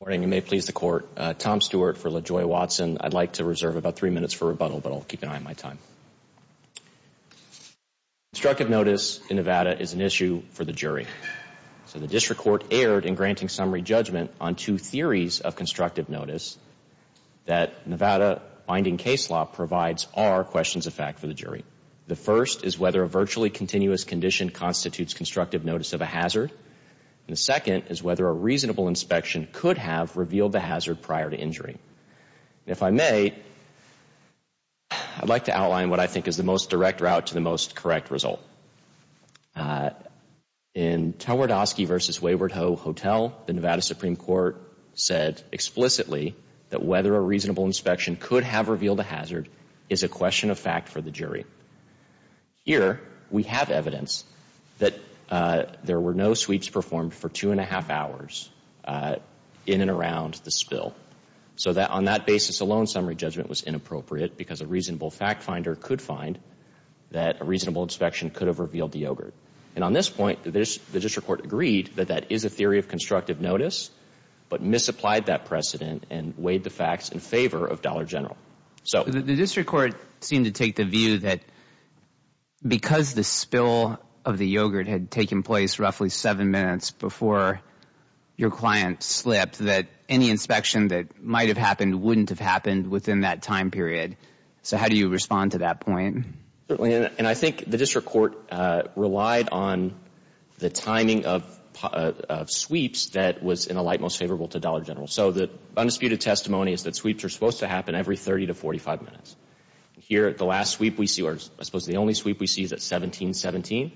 Good morning. You may please the court. Tom Stewart for LaJoy Watson. I'd like to reserve about three minutes for rebuttal, but I'll keep an eye on my time. Constructive notice in Nevada is an issue for the jury. So the district court erred in granting summary judgment on two theories of constructive notice that Nevada binding case law provides are questions of fact for the jury. The first is whether a virtually continuous condition constitutes constructive notice of a hazard. The second is whether a reasonable inspection could have revealed the hazard prior to injury. If I may, I'd like to outline what I think is the most direct route to the most correct result. In Towardosky v. Wayward Hotel, the Nevada Supreme Court said explicitly that whether a reasonable inspection could have revealed a hazard is a question of fact for the jury. Here, we have evidence that there were no sweeps performed for two and a half hours in and around the spill. So on that basis alone, summary judgment was inappropriate because a reasonable fact finder could find that a reasonable inspection could have revealed the ogre. And on this point, the district court agreed that that is a theory of constructive notice, but misapplied that precedent and weighed the facts in favor of Dollar General. So the district court seemed to take the view that because the spill of the yogurt had taken place roughly seven minutes before your client slipped, that any inspection that might have happened wouldn't have happened within that time period. So how do you respond to that point? And I think the district court relied on the timing of sweeps that was in a light most favorable to Dollar General. So the undisputed testimony is that sweeps are supposed to happen every 30 to 45 minutes. Here, the last sweep we see, or I suppose the only sweep we see, is at 1717.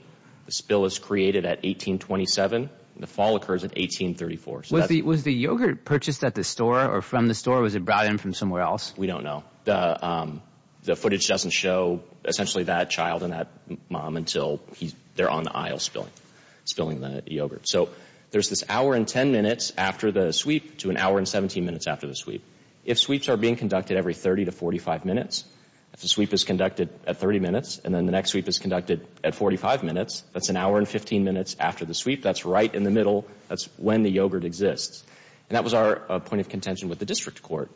The spill is created at 1827. The fall occurs at 1834. Was the yogurt purchased at the store or from the store? Was it brought in from somewhere else? We don't know. The footage doesn't show essentially that child and that mom until they're on the aisle spilling the yogurt. So there's this hour and 10 minutes after the sweep to an hour and 17 minutes after the sweep. If sweeps are being conducted every 30 to 45 minutes, if the sweep is conducted at 30 minutes and then the next sweep is conducted at 45 minutes, that's an hour and 15 minutes after the sweep. That's right in the middle. That's when the yogurt exists. And that was our point of contention with the district court.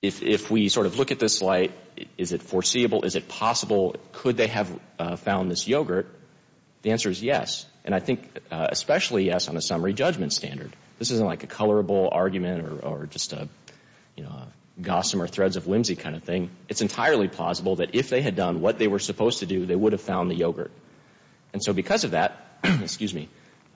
If we sort of look at this light, is it foreseeable? Is it possible? Could they have found this yogurt? The answer is yes. And I think especially yes on a summary judgment standard. This isn't like a colorable argument or just a gossamer threads of whimsy kind of thing. It's entirely plausible that if they had done what they were supposed to do, they would have found the yogurt. And so because of that, excuse me,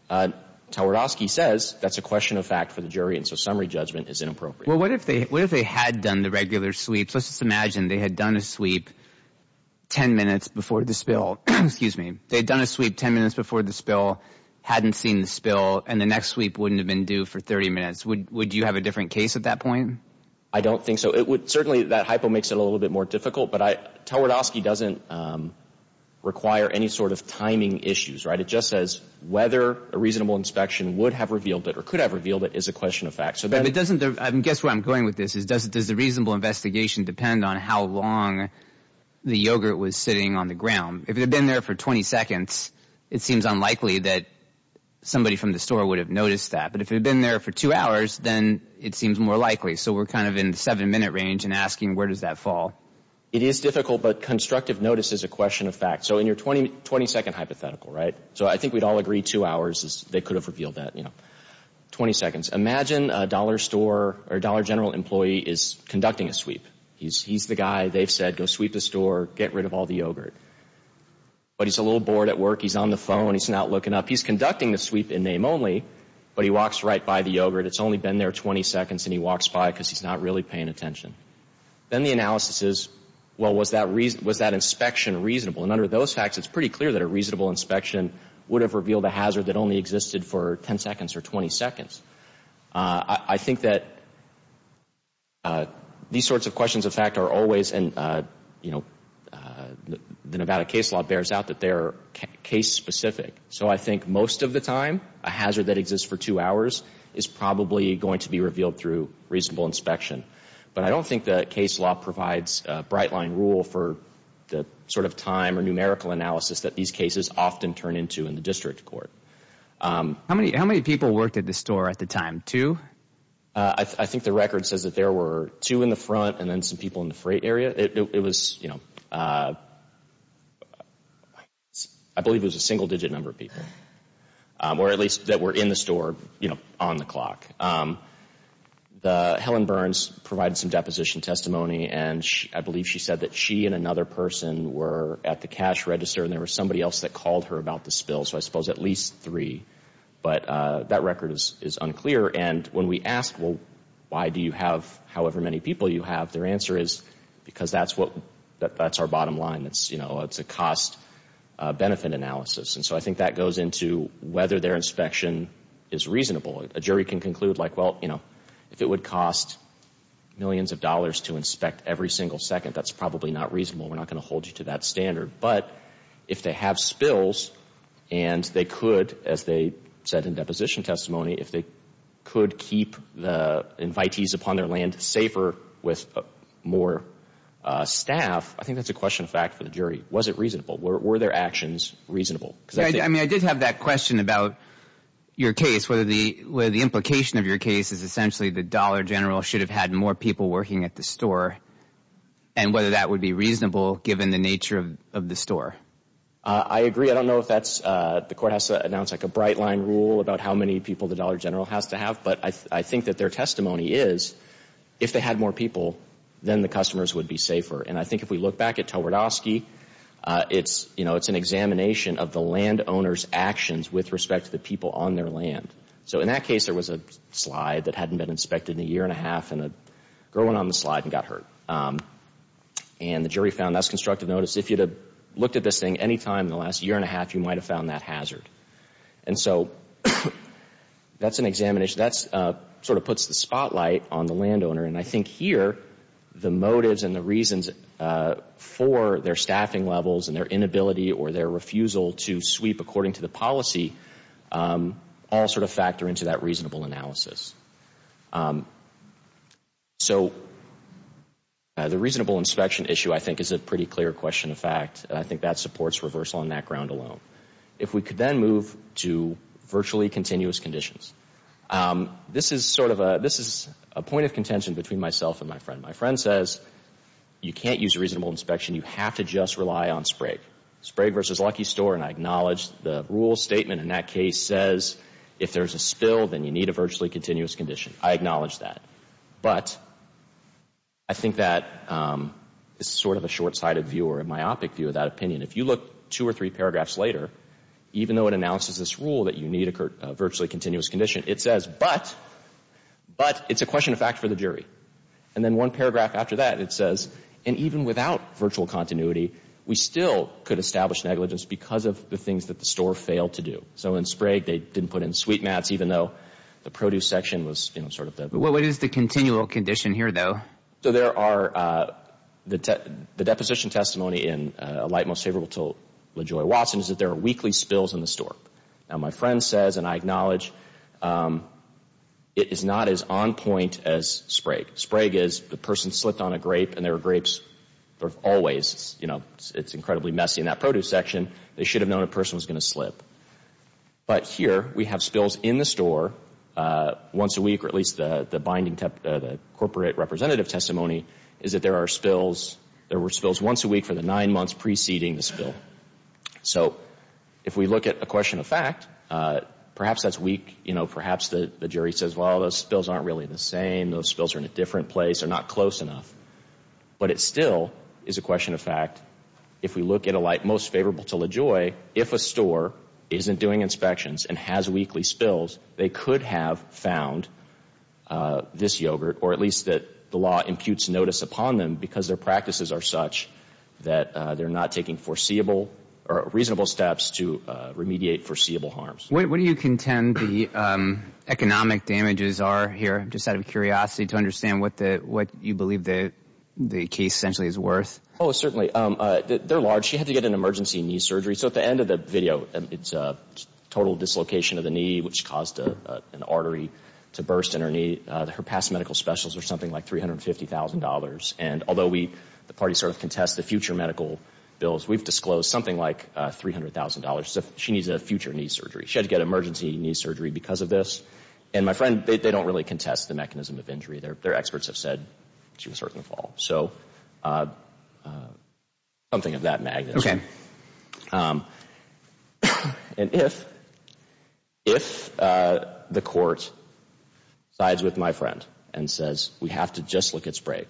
Twardowski says that's a question of fact for the jury, and so summary judgment is inappropriate. Well, what if they had done the regular sweeps? Let's just imagine they had done a sweep 10 minutes before the spill. Excuse me. They had done a sweep 10 minutes before the spill, hadn't seen the spill, and the next sweep wouldn't have been due for 30 minutes. Would you have a different case at that point? I don't think so. Certainly that hypo makes it a little bit more difficult, but Twardowski doesn't require any sort of timing issues. It just says whether a reasonable inspection would have revealed it or could have revealed it is a question of fact. Guess where I'm going with this. Does the reasonable investigation depend on how long the yogurt was sitting on the ground? If it had been there for 20 seconds, it seems unlikely that somebody from the store would have noticed that. But if it had been there for 2 hours, then it seems more likely. So we're kind of in the 7-minute range and asking where does that fall. It is difficult, but constructive notice is a question of fact. So in your 20-second hypothetical, right? So I think we'd all agree 2 hours, they could have revealed that. 20 seconds. Imagine a Dollar General employee is conducting a sweep. He's the guy, they've said, go sweep the store, get rid of all the yogurt. But he's a little bored at work. He's on the phone. He's not looking up. He's conducting the sweep in name only, but he walks right by the yogurt. It's only been there 20 seconds, and he walks by because he's not really paying attention. Then the analysis is, well, was that inspection reasonable? And under those facts, it's pretty clear that a reasonable inspection would have revealed a hazard that only existed for 10 seconds or 20 seconds. I think that these sorts of questions of fact are always in, you know, the Nevada case law bears out that they're case specific. So I think most of the time, a hazard that exists for 2 hours is probably going to be revealed through reasonable inspection. But I don't think the case law provides a bright line rule for the sort of time or numerical analysis that these cases often turn into in the district court. How many people worked at the store at the time? Two? I think the record says that there were two in the front and then some people in the freight area. It was, you know, I believe it was a single digit number of people or at least that were in the store, you know, on the clock. Helen Burns provided some deposition testimony, and I believe she said that she and another person were at the cash register and there was somebody else that called her about the spill. So I suppose at least three. But that record is unclear. And when we ask, well, why do you have however many people you have, their answer is because that's what, that's our bottom line. It's, you know, it's a cost-benefit analysis. And so I think that goes into whether their inspection is reasonable. A jury can conclude, like, well, you know, if it would cost millions of dollars to inspect every single second, that's probably not reasonable. We're not going to hold you to that standard. But if they have spills and they could, as they said in deposition testimony, if they could keep the invitees upon their land safer with more staff, I think that's a question of fact for the jury. Was it reasonable? Were their actions reasonable? I mean, I did have that question about your case, where the implication of your case is essentially the dollar general should have had more people working at the store and whether that would be reasonable given the nature of the store. I agree. I don't know if that's, the court has to announce, like, a bright-line rule about how many people the dollar general has to have. But I think that their testimony is if they had more people, then the customers would be safer. And I think if we look back at Towardosky, it's, you know, it's an examination of the landowner's actions with respect to the people on their land. So in that case, there was a slide that hadn't been inspected in a year and a half and a girl went on the slide and got hurt. And the jury found that's constructive notice. If you'd have looked at this thing any time in the last year and a half, you might have found that hazard. And so that's an examination. That sort of puts the spotlight on the landowner. And I think here the motives and the reasons for their staffing levels and their inability or their refusal to sweep according to the policy all sort of factor into that reasonable analysis. So the reasonable inspection issue, I think, is a pretty clear question of fact. And I think that supports reversal on that ground alone. If we could then move to virtually continuous conditions, this is sort of a, this is a point of contention between myself and my friend. My friend says, you can't use a reasonable inspection. You have to just rely on SPRAG. SPRAG versus Lucky Store, and I acknowledge the rule statement in that case says if there's a spill, then you need a virtually continuous condition. I acknowledge that. But I think that is sort of a short-sighted view or a myopic view of that opinion. If you look two or three paragraphs later, even though it announces this rule that you need a virtually continuous condition, it says, but, but it's a question of fact for the jury. And then one paragraph after that, it says, and even without virtual continuity, we still could establish negligence because of the things that the store failed to do. So in SPRAG, they didn't put in sweet mats, even though the produce section was sort of that. Well, what is the continual condition here, though? So there are, the deposition testimony in A Light Most Favorable told LaJoy Watson is that there are weekly spills in the store. Now, my friend says, and I acknowledge, it is not as on point as SPRAG. SPRAG is the person slipped on a grape, and there are grapes that are always, you know, it's incredibly messy in that produce section. They should have known a person was going to slip. But here we have spills in the store once a week, or at least the binding, the corporate representative testimony is that there are spills. There were spills once a week for the nine months preceding the spill. So if we look at a question of fact, perhaps that's weak. You know, perhaps the jury says, well, those spills aren't really the same. Those spills are in a different place. They're not close enough. But it still is a question of fact. If we look at A Light Most Favorable to LaJoy, if a store isn't doing inspections and has weekly spills, they could have found this yogurt, or at least that the law imputes notice upon them because their practices are such that they're not taking foreseeable or reasonable steps to remediate foreseeable harms. What do you contend the economic damages are here, just out of curiosity to understand what you believe the case essentially is worth? Oh, certainly. They're large. She had to get an emergency knee surgery. So at the end of the video, it's a total dislocation of the knee, which caused an artery to burst in her knee. Her past medical specials were something like $350,000. And although the party sort of contests the future medical bills, we've disclosed something like $300,000. She needs a future knee surgery. She had to get emergency knee surgery because of this. And my friend, they don't really contest the mechanism of injury. Their experts have said she was hurt in the fall. So something of that magnitude. And if the court sides with my friend and says we have to just look at spray,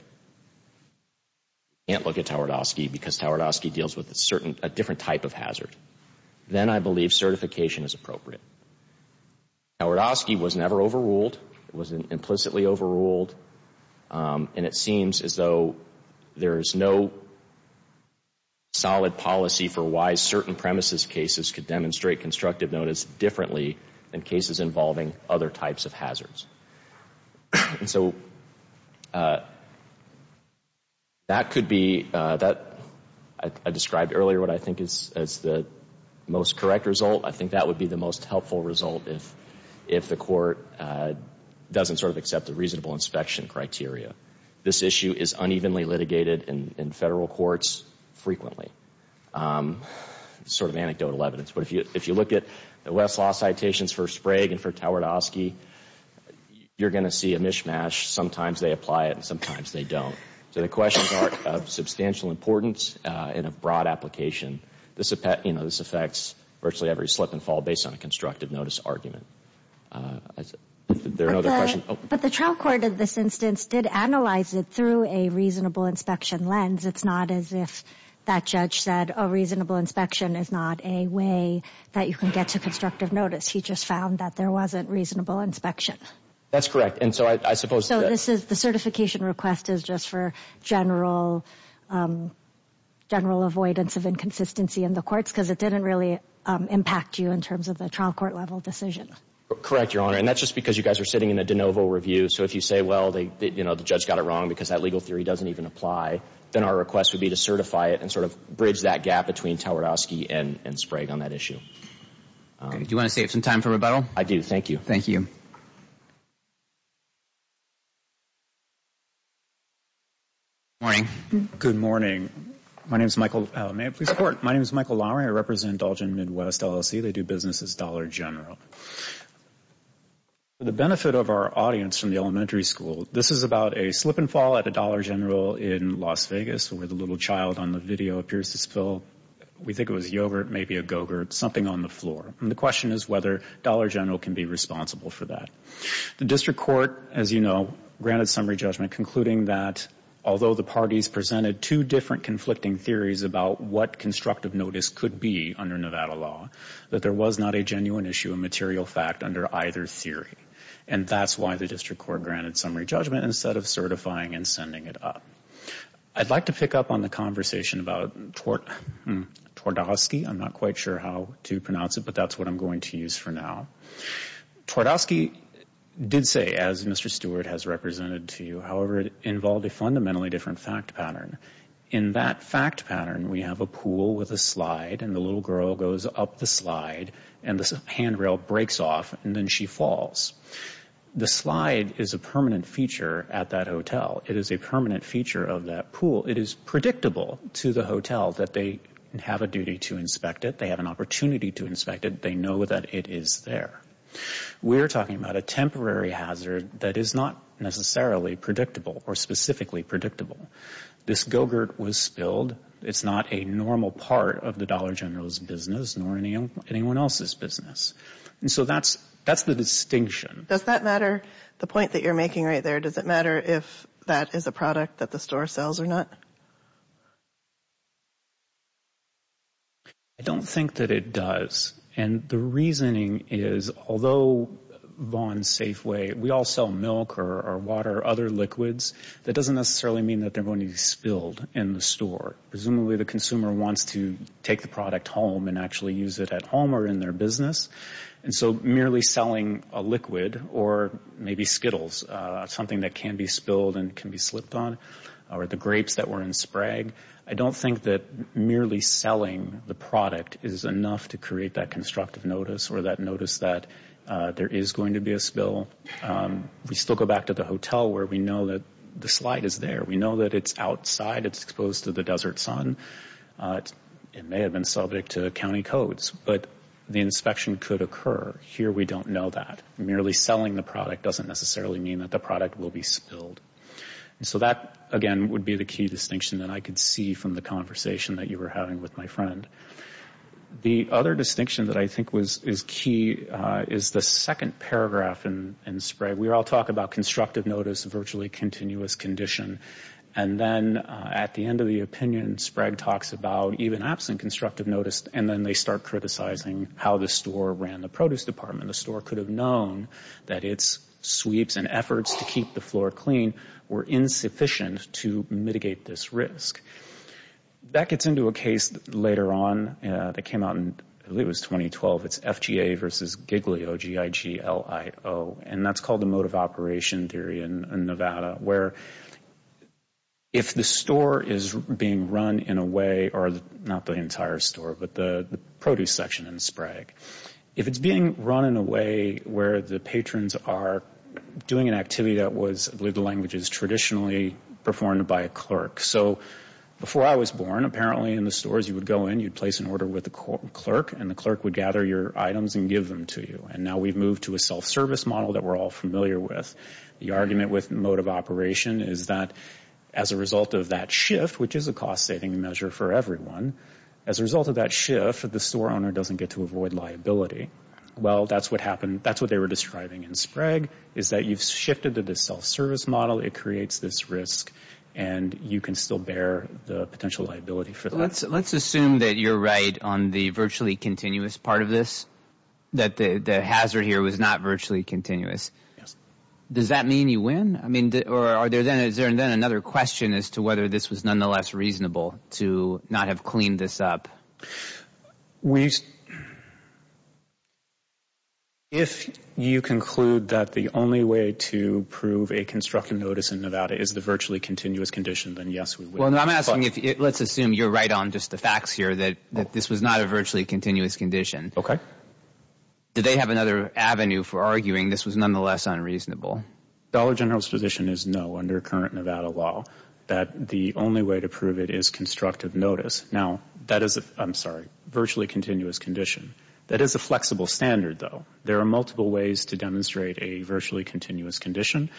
can't look at Tawardowski because Tawardowski deals with a different type of hazard, then I believe certification is appropriate. Tawardowski was never overruled. It was implicitly overruled. And it seems as though there is no solid policy for why certain premises cases could demonstrate constructive notice differently than cases involving other types of hazards. And so that could be, I described earlier what I think is the most correct result. I think that would be the most helpful result if the court doesn't sort of accept the reasonable inspection criteria. This issue is unevenly litigated in federal courts frequently. Sort of anecdotal evidence. But if you look at the Westlaw citations for Sprague and for Tawardowski, you're going to see a mishmash. Sometimes they apply it and sometimes they don't. So the questions are of substantial importance and of broad application. This affects virtually every slip and fall based on a constructive notice argument. Is there another question? But the trial court in this instance did analyze it through a reasonable inspection lens. It's not as if that judge said a reasonable inspection is not a way that you can get to constructive notice. He just found that there wasn't reasonable inspection. That's correct. And so I suppose. So this is the certification request is just for general avoidance of inconsistency in the courts because it didn't really impact you in terms of the trial court level decision. Correct, Your Honor. And that's just because you guys are sitting in a de novo review. So if you say, well, the judge got it wrong because that legal theory doesn't even apply, then our request would be to certify it and sort of bridge that gap between Tawardowski and Sprague on that issue. Do you want to save some time for rebuttal? I do. Thank you. Thank you. Good morning. Good morning. My name is Michael. May I please report? My name is Michael Lowery. I represent Dalton Midwest LLC. They do business as Dollar General. For the benefit of our audience from the elementary school, this is about a slip and fall at a Dollar General in Las Vegas where the little child on the video appears to spill, we think it was yogurt, maybe a go-gurt, something on the floor. And the question is whether Dollar General can be responsible for that. The district court, as you know, granted summary judgment concluding that although the parties presented two different conflicting theories about what constructive notice could be under Nevada law, that there was not a genuine issue, a material fact under either theory. And that's why the district court granted summary judgment instead of certifying and sending it up. I'd like to pick up on the conversation about Tawardowski. I'm not quite sure how to pronounce it, but that's what I'm going to use for now. Tawardowski did say, as Mr. Stewart has represented to you, however, it involved a fundamentally different fact pattern. In that fact pattern, we have a pool with a slide and the little girl goes up the slide and the handrail breaks off and then she falls. The slide is a permanent feature at that hotel. It is a permanent feature of that pool. It is predictable to the hotel that they have a duty to inspect it. They have an opportunity to inspect it. They know that it is there. We're talking about a temporary hazard that is not necessarily predictable or specifically predictable. This go-gurt was spilled. It's not a normal part of the Dollar General's business nor anyone else's business. And so that's the distinction. Does that matter? The point that you're making right there, does it matter if that is a product that the store sells or not? I don't think that it does. And the reasoning is, although Vaughn's Safeway, we all sell milk or water or other liquids, that doesn't necessarily mean that they're going to be spilled in the store. Presumably the consumer wants to take the product home and actually use it at home or in their business. And so merely selling a liquid or maybe Skittles, something that can be spilled and can be slipped on, or the grapes that were in Sprague, I don't think that merely selling the product is enough to create that constructive notice or that notice that there is going to be a spill. We still go back to the hotel where we know that the slide is there. We know that it's outside. It's exposed to the desert sun. It may have been subject to county codes, but the inspection could occur. Here we don't know that. Merely selling the product doesn't necessarily mean that the product will be spilled. And so that, again, would be the key distinction that I could see from the conversation that you were having with my friend. The other distinction that I think is key is the second paragraph in Sprague. We all talk about constructive notice, virtually continuous condition. And then at the end of the opinion, Sprague talks about even absent constructive notice, and then they start criticizing how the store ran the produce department. And the store could have known that its sweeps and efforts to keep the floor clean were insufficient to mitigate this risk. That gets into a case later on that came out, I believe it was 2012. It's FGA versus Giglio, G-I-G-L-I-O. And that's called the mode of operation theory in Nevada, where if the store is being run in a way, or not the entire store, but the produce section in Sprague, if it's being run in a way where the patrons are doing an activity that was, I believe the language is traditionally performed by a clerk. So before I was born, apparently in the stores you would go in, you'd place an order with the clerk, and the clerk would gather your items and give them to you. And now we've moved to a self-service model that we're all familiar with. The argument with mode of operation is that as a result of that shift, which is a cost-saving measure for everyone, as a result of that shift, the store owner doesn't get to avoid liability. Well, that's what they were describing in Sprague, is that you've shifted to this self-service model, it creates this risk, and you can still bear the potential liability for that. Let's assume that you're right on the virtually continuous part of this, that the hazard here was not virtually continuous. Does that mean you win? Or is there then another question as to whether this was nonetheless reasonable to not have cleaned this up? We... If you conclude that the only way to prove a constructive notice in Nevada is the virtually continuous condition, then yes, we win. Well, I'm asking if, let's assume you're right on just the facts here, that this was not a virtually continuous condition. Okay. Did they have another avenue for arguing this was nonetheless unreasonable? Dollar General's position is no, under current Nevada law, that the only way to prove it is constructive notice. Now, that is a, I'm sorry, virtually continuous condition. That is a flexible standard, though. There are multiple ways to demonstrate a virtually continuous condition.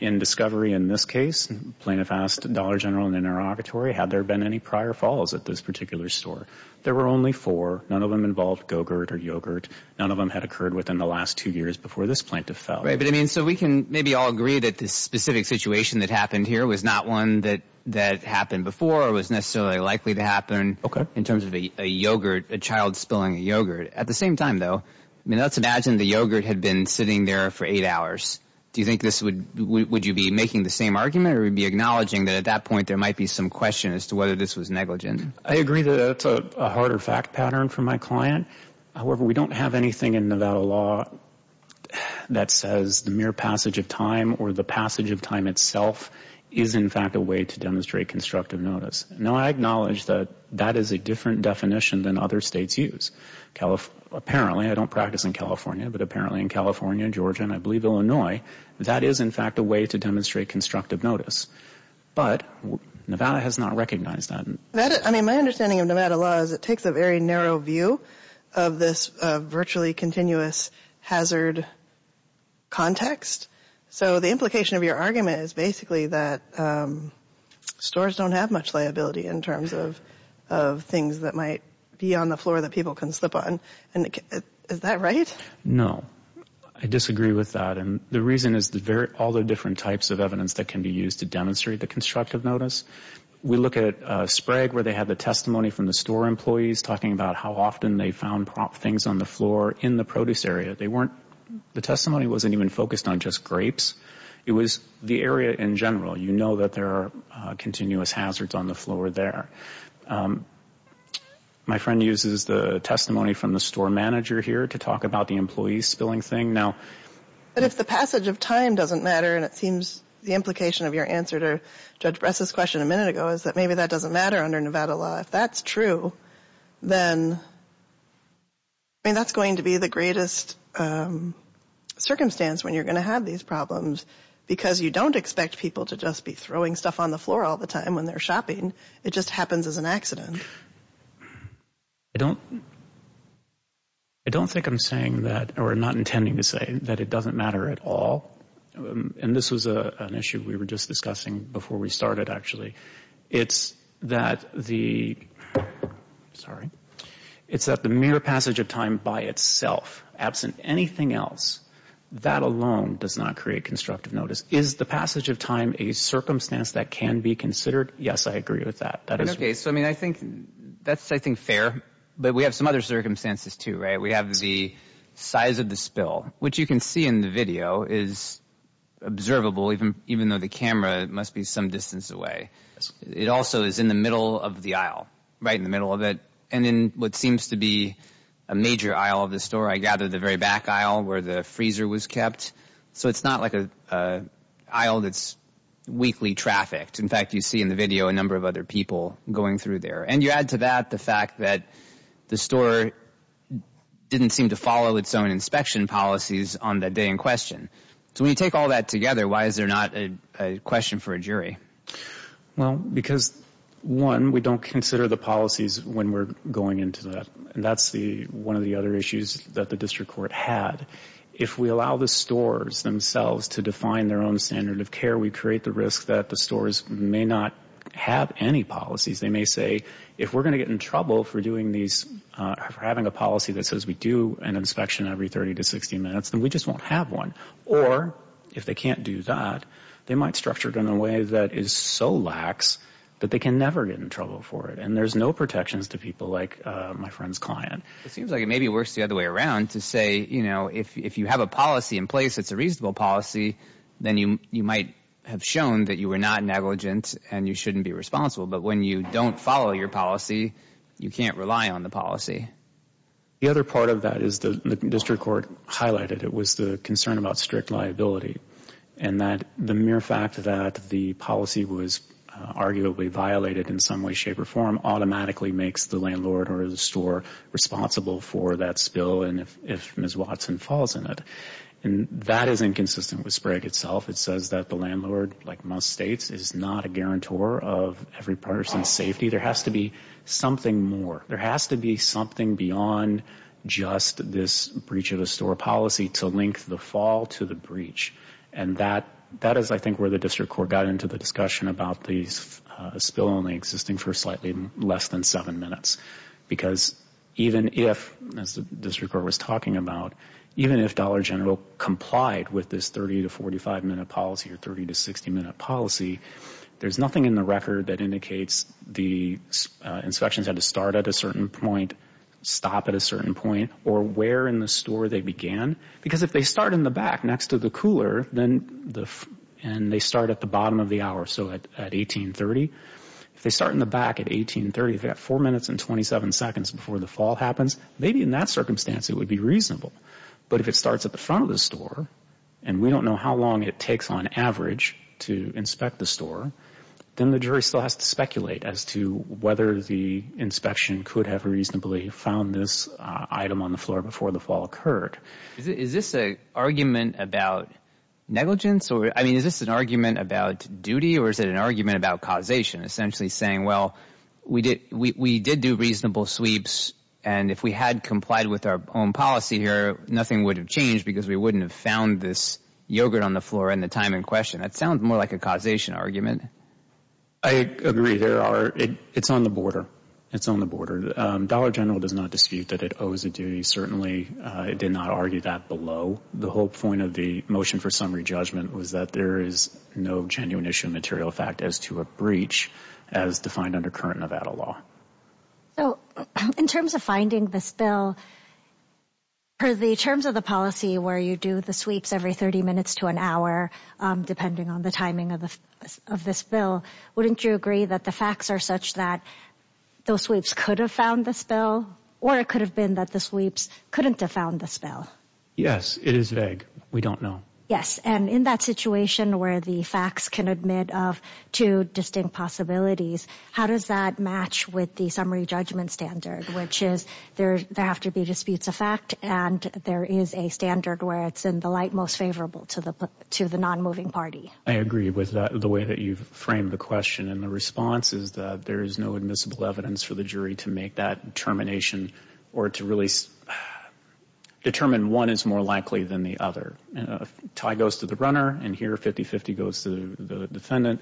In discovery in this case, plaintiff asked Dollar General in an interrogatory, had there been any prior falls at this particular store? There were only four. None of them involved Go-Gurt or yogurt. None of them had occurred within the last two years before this plaintiff fell. Right. But, I mean, so we can maybe all agree that this specific situation that happened here was not one that happened before or was necessarily likely to happen... ...in terms of a yogurt, a child spilling a yogurt. At the same time, though, I mean, let's imagine the yogurt had been sitting there for eight hours. Do you think this would, would you be making the same argument or would you be acknowledging that at that point there might be some question as to whether this was negligent? I agree that that's a harder fact pattern for my client. However, we don't have anything in Nevada law that says the mere passage of time or the passage of time itself is, in fact, a way to demonstrate constructive notice. Now, I acknowledge that that is a different definition than other states use. Apparently, I don't practice in California, but apparently in California, Georgia, and I believe Illinois, that is, in fact, a way to demonstrate constructive notice. But Nevada has not recognized that. I mean, my understanding of Nevada law is it takes a very narrow view of this virtually continuous hazard context. So the implication of your argument is basically that stores don't have much liability in terms of things that might be on the floor that people can slip on. Is that right? No. I disagree with that. And the reason is all the different types of evidence that can be used to demonstrate the constructive notice. We look at Sprague where they had the testimony from the store employees talking about how often they found things on the floor in the produce area. The testimony wasn't even focused on just grapes. It was the area in general. You know that there are continuous hazards on the floor there. My friend uses the testimony from the store manager here to talk about the employee spilling thing. But if the passage of time doesn't matter, and it seems the implication of your answer to Judge Bress's question a minute ago is that maybe that doesn't matter under Nevada law. If that's true, then that's going to be the greatest circumstance when you're going to have these problems because you don't expect people to just be throwing stuff on the floor all the time when they're shopping. It just happens as an accident. I don't think I'm saying that, or not intending to say that it doesn't matter at all. And this was an issue we were just discussing before we started, actually. It's that the mere passage of time by itself, absent anything else, that alone does not create constructive notice. Is the passage of time a circumstance that can be considered? Yes, I agree with that. Okay, so I think that's, I think, fair. But we have some other circumstances too, right? We have the size of the spill, which you can see in the video is observable, even though the camera must be some distance away. It also is in the middle of the aisle, right in the middle of it, and in what seems to be a major aisle of the store. I gather the very back aisle where the freezer was kept. So it's not like an aisle that's weakly trafficked. In fact, you see in the video a number of other people going through there. And you add to that the fact that the store didn't seem to follow its own inspection policies on that day in question. So when you take all that together, why is there not a question for a jury? Well, because, one, we don't consider the policies when we're going into that. That's one of the other issues that the district court had. If we allow the stores themselves to define their own standard of care, we create the risk that the stores may not have any policies. They may say, if we're going to get in trouble for doing these, for having a policy that says we do an inspection every 30 to 60 minutes, then we just won't have one. Or, if they can't do that, they might structure it in a way that is so lax that they can never get in trouble for it. And there's no protections to people like my friend's client. It seems like it maybe works the other way around to say, you know, if you have a policy in place that's a reasonable policy, then you might have shown that you were not negligent and you shouldn't be responsible. But when you don't follow your policy, you can't rely on the policy. The other part of that is the district court highlighted. It was the concern about strict liability and that the mere fact that the policy was arguably violated in some way, shape, or form, automatically makes the landlord or the store responsible for that spill and if Ms. Watson falls in it. And that is inconsistent with SPRAG itself. It says that the landlord, like most states, is not a guarantor of every person's safety. There has to be something more. There has to be something beyond just this breach of the store policy to link the fall to the breach. And that is, I think, where the district court got into the discussion about the spill only existing for slightly less than seven minutes. Because even if, as the district court was talking about, even if Dollar General complied with this 30 to 45 minute policy or 30 to 60 minute policy, there's nothing in the record that indicates the inspections had to start at a certain point, stop at a certain point, or where in the store they began. Because if they start in the back next to the cooler and they start at the bottom of the hour, so at 1830, if they start in the back at 1830, they've got four minutes and 27 seconds before the fall happens, maybe in that circumstance it would be reasonable. But if it starts at the front of the store and we don't know how long it takes on average to inspect the store, then the jury still has to speculate as to whether the inspection could have reasonably found this item on the floor before the fall occurred. Is this an argument about negligence? I mean, is this an argument about duty or is it an argument about causation, essentially saying, well, we did do reasonable sweeps and if we had complied with our own policy here, nothing would have changed because we wouldn't have found this yogurt on the floor in the time in question. That sounds more like a causation argument. I agree. It's on the border. It's on the border. Dollar General does not dispute that it owes a duty. Certainly it did not argue that below. The whole point of the motion for summary judgment was that there is no genuine issue of material fact as to a breach as defined under current Nevada law. In terms of finding the spill, the terms of the policy where you do the sweeps every 30 minutes to an hour, depending on the timing of the spill, wouldn't you agree that the facts are such that those sweeps could have found the spill or it could have been that the sweeps couldn't have found the spill? Yes, it is vague. We don't know. Yes, and in that situation where the facts can admit of two distinct possibilities, how does that match with the summary judgment standard, which is there have to be disputes of fact and there is a standard where it's in the light most favorable to the non-moving party? I agree with the way that you've framed the question, and the response is that there is no admissible evidence for the jury to make that determination or to really determine one is more likely than the other. A tie goes to the runner, and here 50-50 goes to the defendant.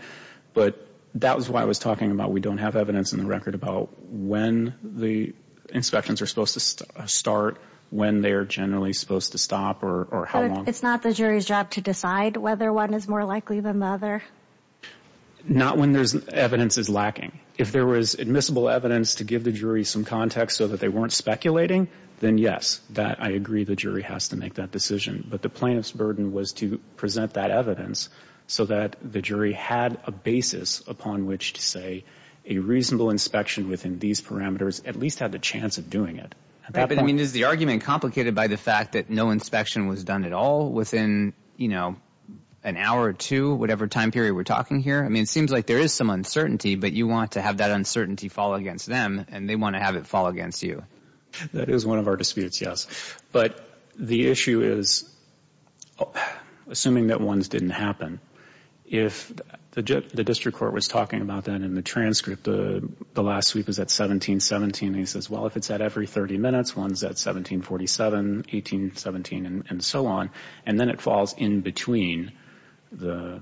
But that was what I was talking about. We don't have evidence in the record about when the inspections are supposed to start, when they are generally supposed to stop, or how long. But it's not the jury's job to decide whether one is more likely than the other? Not when evidence is lacking. If there was admissible evidence to give the jury some context so that they weren't speculating, then yes, I agree the jury has to make that decision. But the plaintiff's burden was to present that evidence so that the jury had a basis upon which to say a reasonable inspection within these parameters at least had the chance of doing it. Is the argument complicated by the fact that no inspection was done at all within an hour or two, whatever time period we're talking here? It seems like there is some uncertainty, but you want to have that uncertainty fall against them, and they want to have it fall against you. That is one of our disputes, yes. But the issue is, assuming that ones didn't happen, if the district court was talking about that in the transcript, the last sweep is at 17.17, and he says, well, if it's at every 30 minutes, one's at 17.47, 18.17, and so on, and then it falls in between the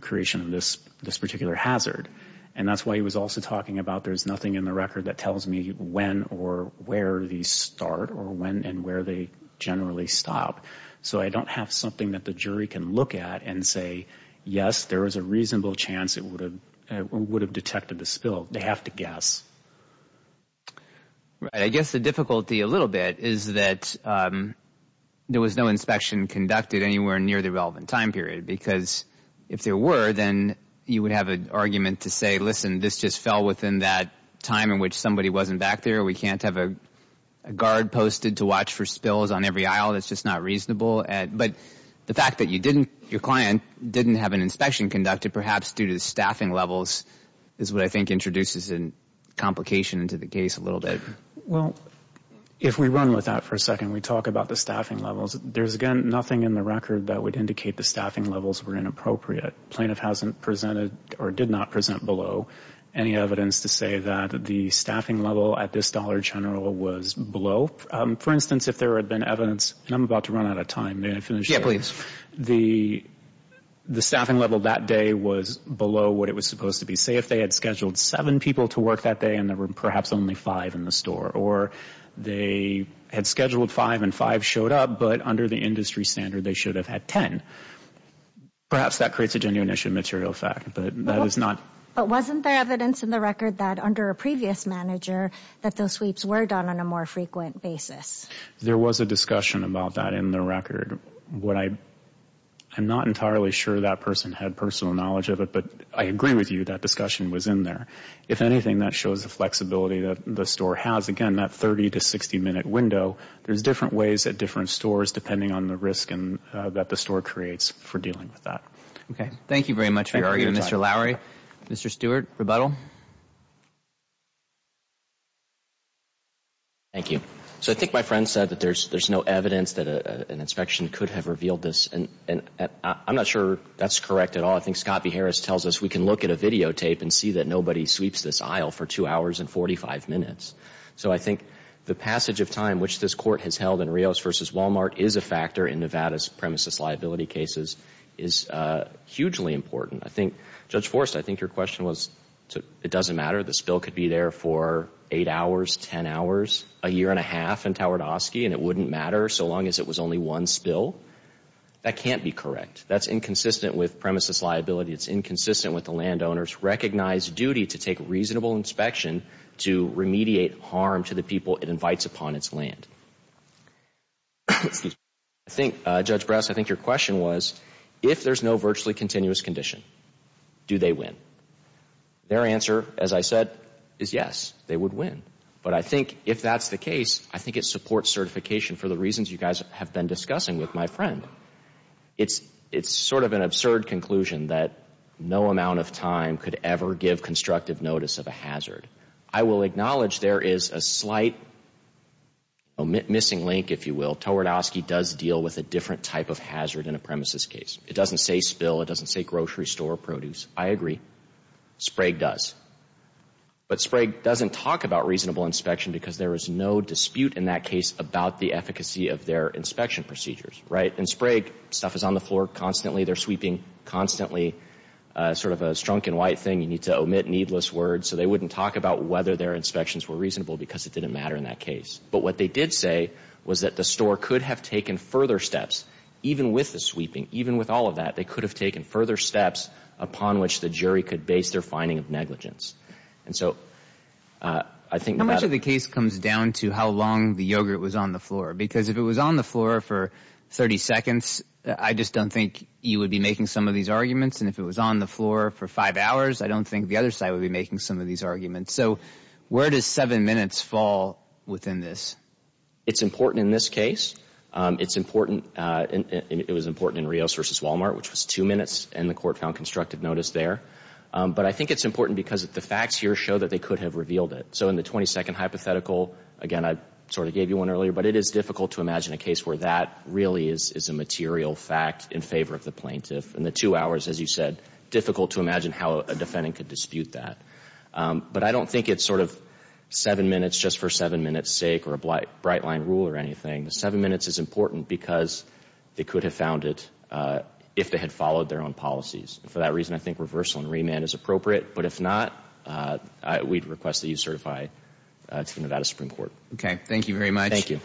creation of this particular hazard. And that's why he was also talking about there's nothing in the record that tells me when or where these start or when and where they generally stop. So I don't have something that the jury can look at and say, yes, there is a reasonable chance it would have detected the spill. They have to guess. Right. I guess the difficulty a little bit is that there was no inspection conducted anywhere near the relevant time period, because if there were, then you would have an argument to say, listen, this just fell within that time in which somebody wasn't back there. We can't have a guard posted to watch for spills on every aisle. It's just not reasonable. But the fact that your client didn't have an inspection conducted, perhaps due to the staffing levels, is what I think introduces a complication to the case a little bit. Well, if we run with that for a second, we talk about the staffing levels. There's, again, nothing in the record that would indicate the staffing levels were inappropriate. The plaintiff hasn't presented or did not present below any evidence to say that the staffing level at this Dollar General was below. For instance, if there had been evidence, and I'm about to run out of time. Yeah, please. The staffing level that day was below what it was supposed to be. Say if they had scheduled seven people to work that day and there were perhaps only five in the store, or they had scheduled five and five showed up, but under the industry standard they should have had ten. Perhaps that creates a genuine issue of material fact, but that is not. But wasn't there evidence in the record that under a previous manager that those sweeps were done on a more frequent basis? There was a discussion about that in the record. I'm not entirely sure that person had personal knowledge of it, but I agree with you that discussion was in there. If anything, that shows the flexibility that the store has. Again, that 30- to 60-minute window, there's different ways that different stores, depending on the risk that the store creates for dealing with that. Okay. Thank you very much for your argument, Mr. Lowery. Mr. Stewart, rebuttal. Thank you. I think my friend said that there's no evidence that an inspection could have revealed this. I'm not sure that's correct at all. I think Scott B. Harris tells us we can look at a videotape and see that nobody sweeps this aisle for two hours and 45 minutes. So I think the passage of time, which this Court has held in Rios v. Walmart, is a factor in Nevada's premises liability cases, is hugely important. Judge Forst, I think your question was it doesn't matter. The spill could be there for eight hours, ten hours, a year and a half in Tawardowski, and it wouldn't matter so long as it was only one spill. That can't be correct. That's inconsistent with premises liability. It's inconsistent with the landowner's recognized duty to take reasonable inspection to remediate harm to the people it invites upon its land. I think, Judge Brass, I think your question was if there's no virtually continuous condition, do they win? Their answer, as I said, is yes, they would win. But I think if that's the case, I think it supports certification for the reasons you guys have been discussing with my friend. It's sort of an absurd conclusion that no amount of time could ever give constructive notice of a hazard. I will acknowledge there is a slight missing link, if you will. Tawardowski does deal with a different type of hazard in a premises case. It doesn't say spill. It doesn't say grocery store produce. I agree. Sprague does. But Sprague doesn't talk about reasonable inspection because there is no dispute in that case about the efficacy of their inspection procedures, right? In Sprague, stuff is on the floor constantly. They're sweeping constantly. Sort of a strunk and white thing. You need to omit needless words. So they wouldn't talk about whether their inspections were reasonable because it didn't matter in that case. But what they did say was that the store could have taken further steps. Even with the sweeping, even with all of that, they could have taken further steps upon which the jury could base their finding of negligence. And so I think that... How much of the case comes down to how long the yogurt was on the floor? Because if it was on the floor for 30 seconds, I just don't think you would be making some of these arguments. And if it was on the floor for five hours, I don't think the other side would be making some of these arguments. So where does seven minutes fall within this? It's important in this case. It's important... It was important in Rios v. Walmart, which was two minutes, and the court found constructive notice there. But I think it's important because the facts here show that they could have revealed it. So in the 20-second hypothetical, again, I sort of gave you one earlier, but it is difficult to imagine a case where that really is a material fact in favor of the plaintiff. In the two hours, as you said, difficult to imagine how a defendant could dispute that. But I don't think it's sort of seven minutes just for seven minutes' sake or a bright-line rule or anything. The seven minutes is important because they could have found it if they had followed their own policies. And for that reason, I think reversal and remand is appropriate. But if not, we'd request that you certify to the Nevada Supreme Court. Okay, thank you very much. Thank you.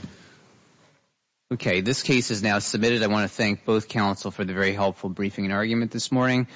Okay, this case is now submitted. I want to thank both counsel for the very helpful briefing and argument this morning.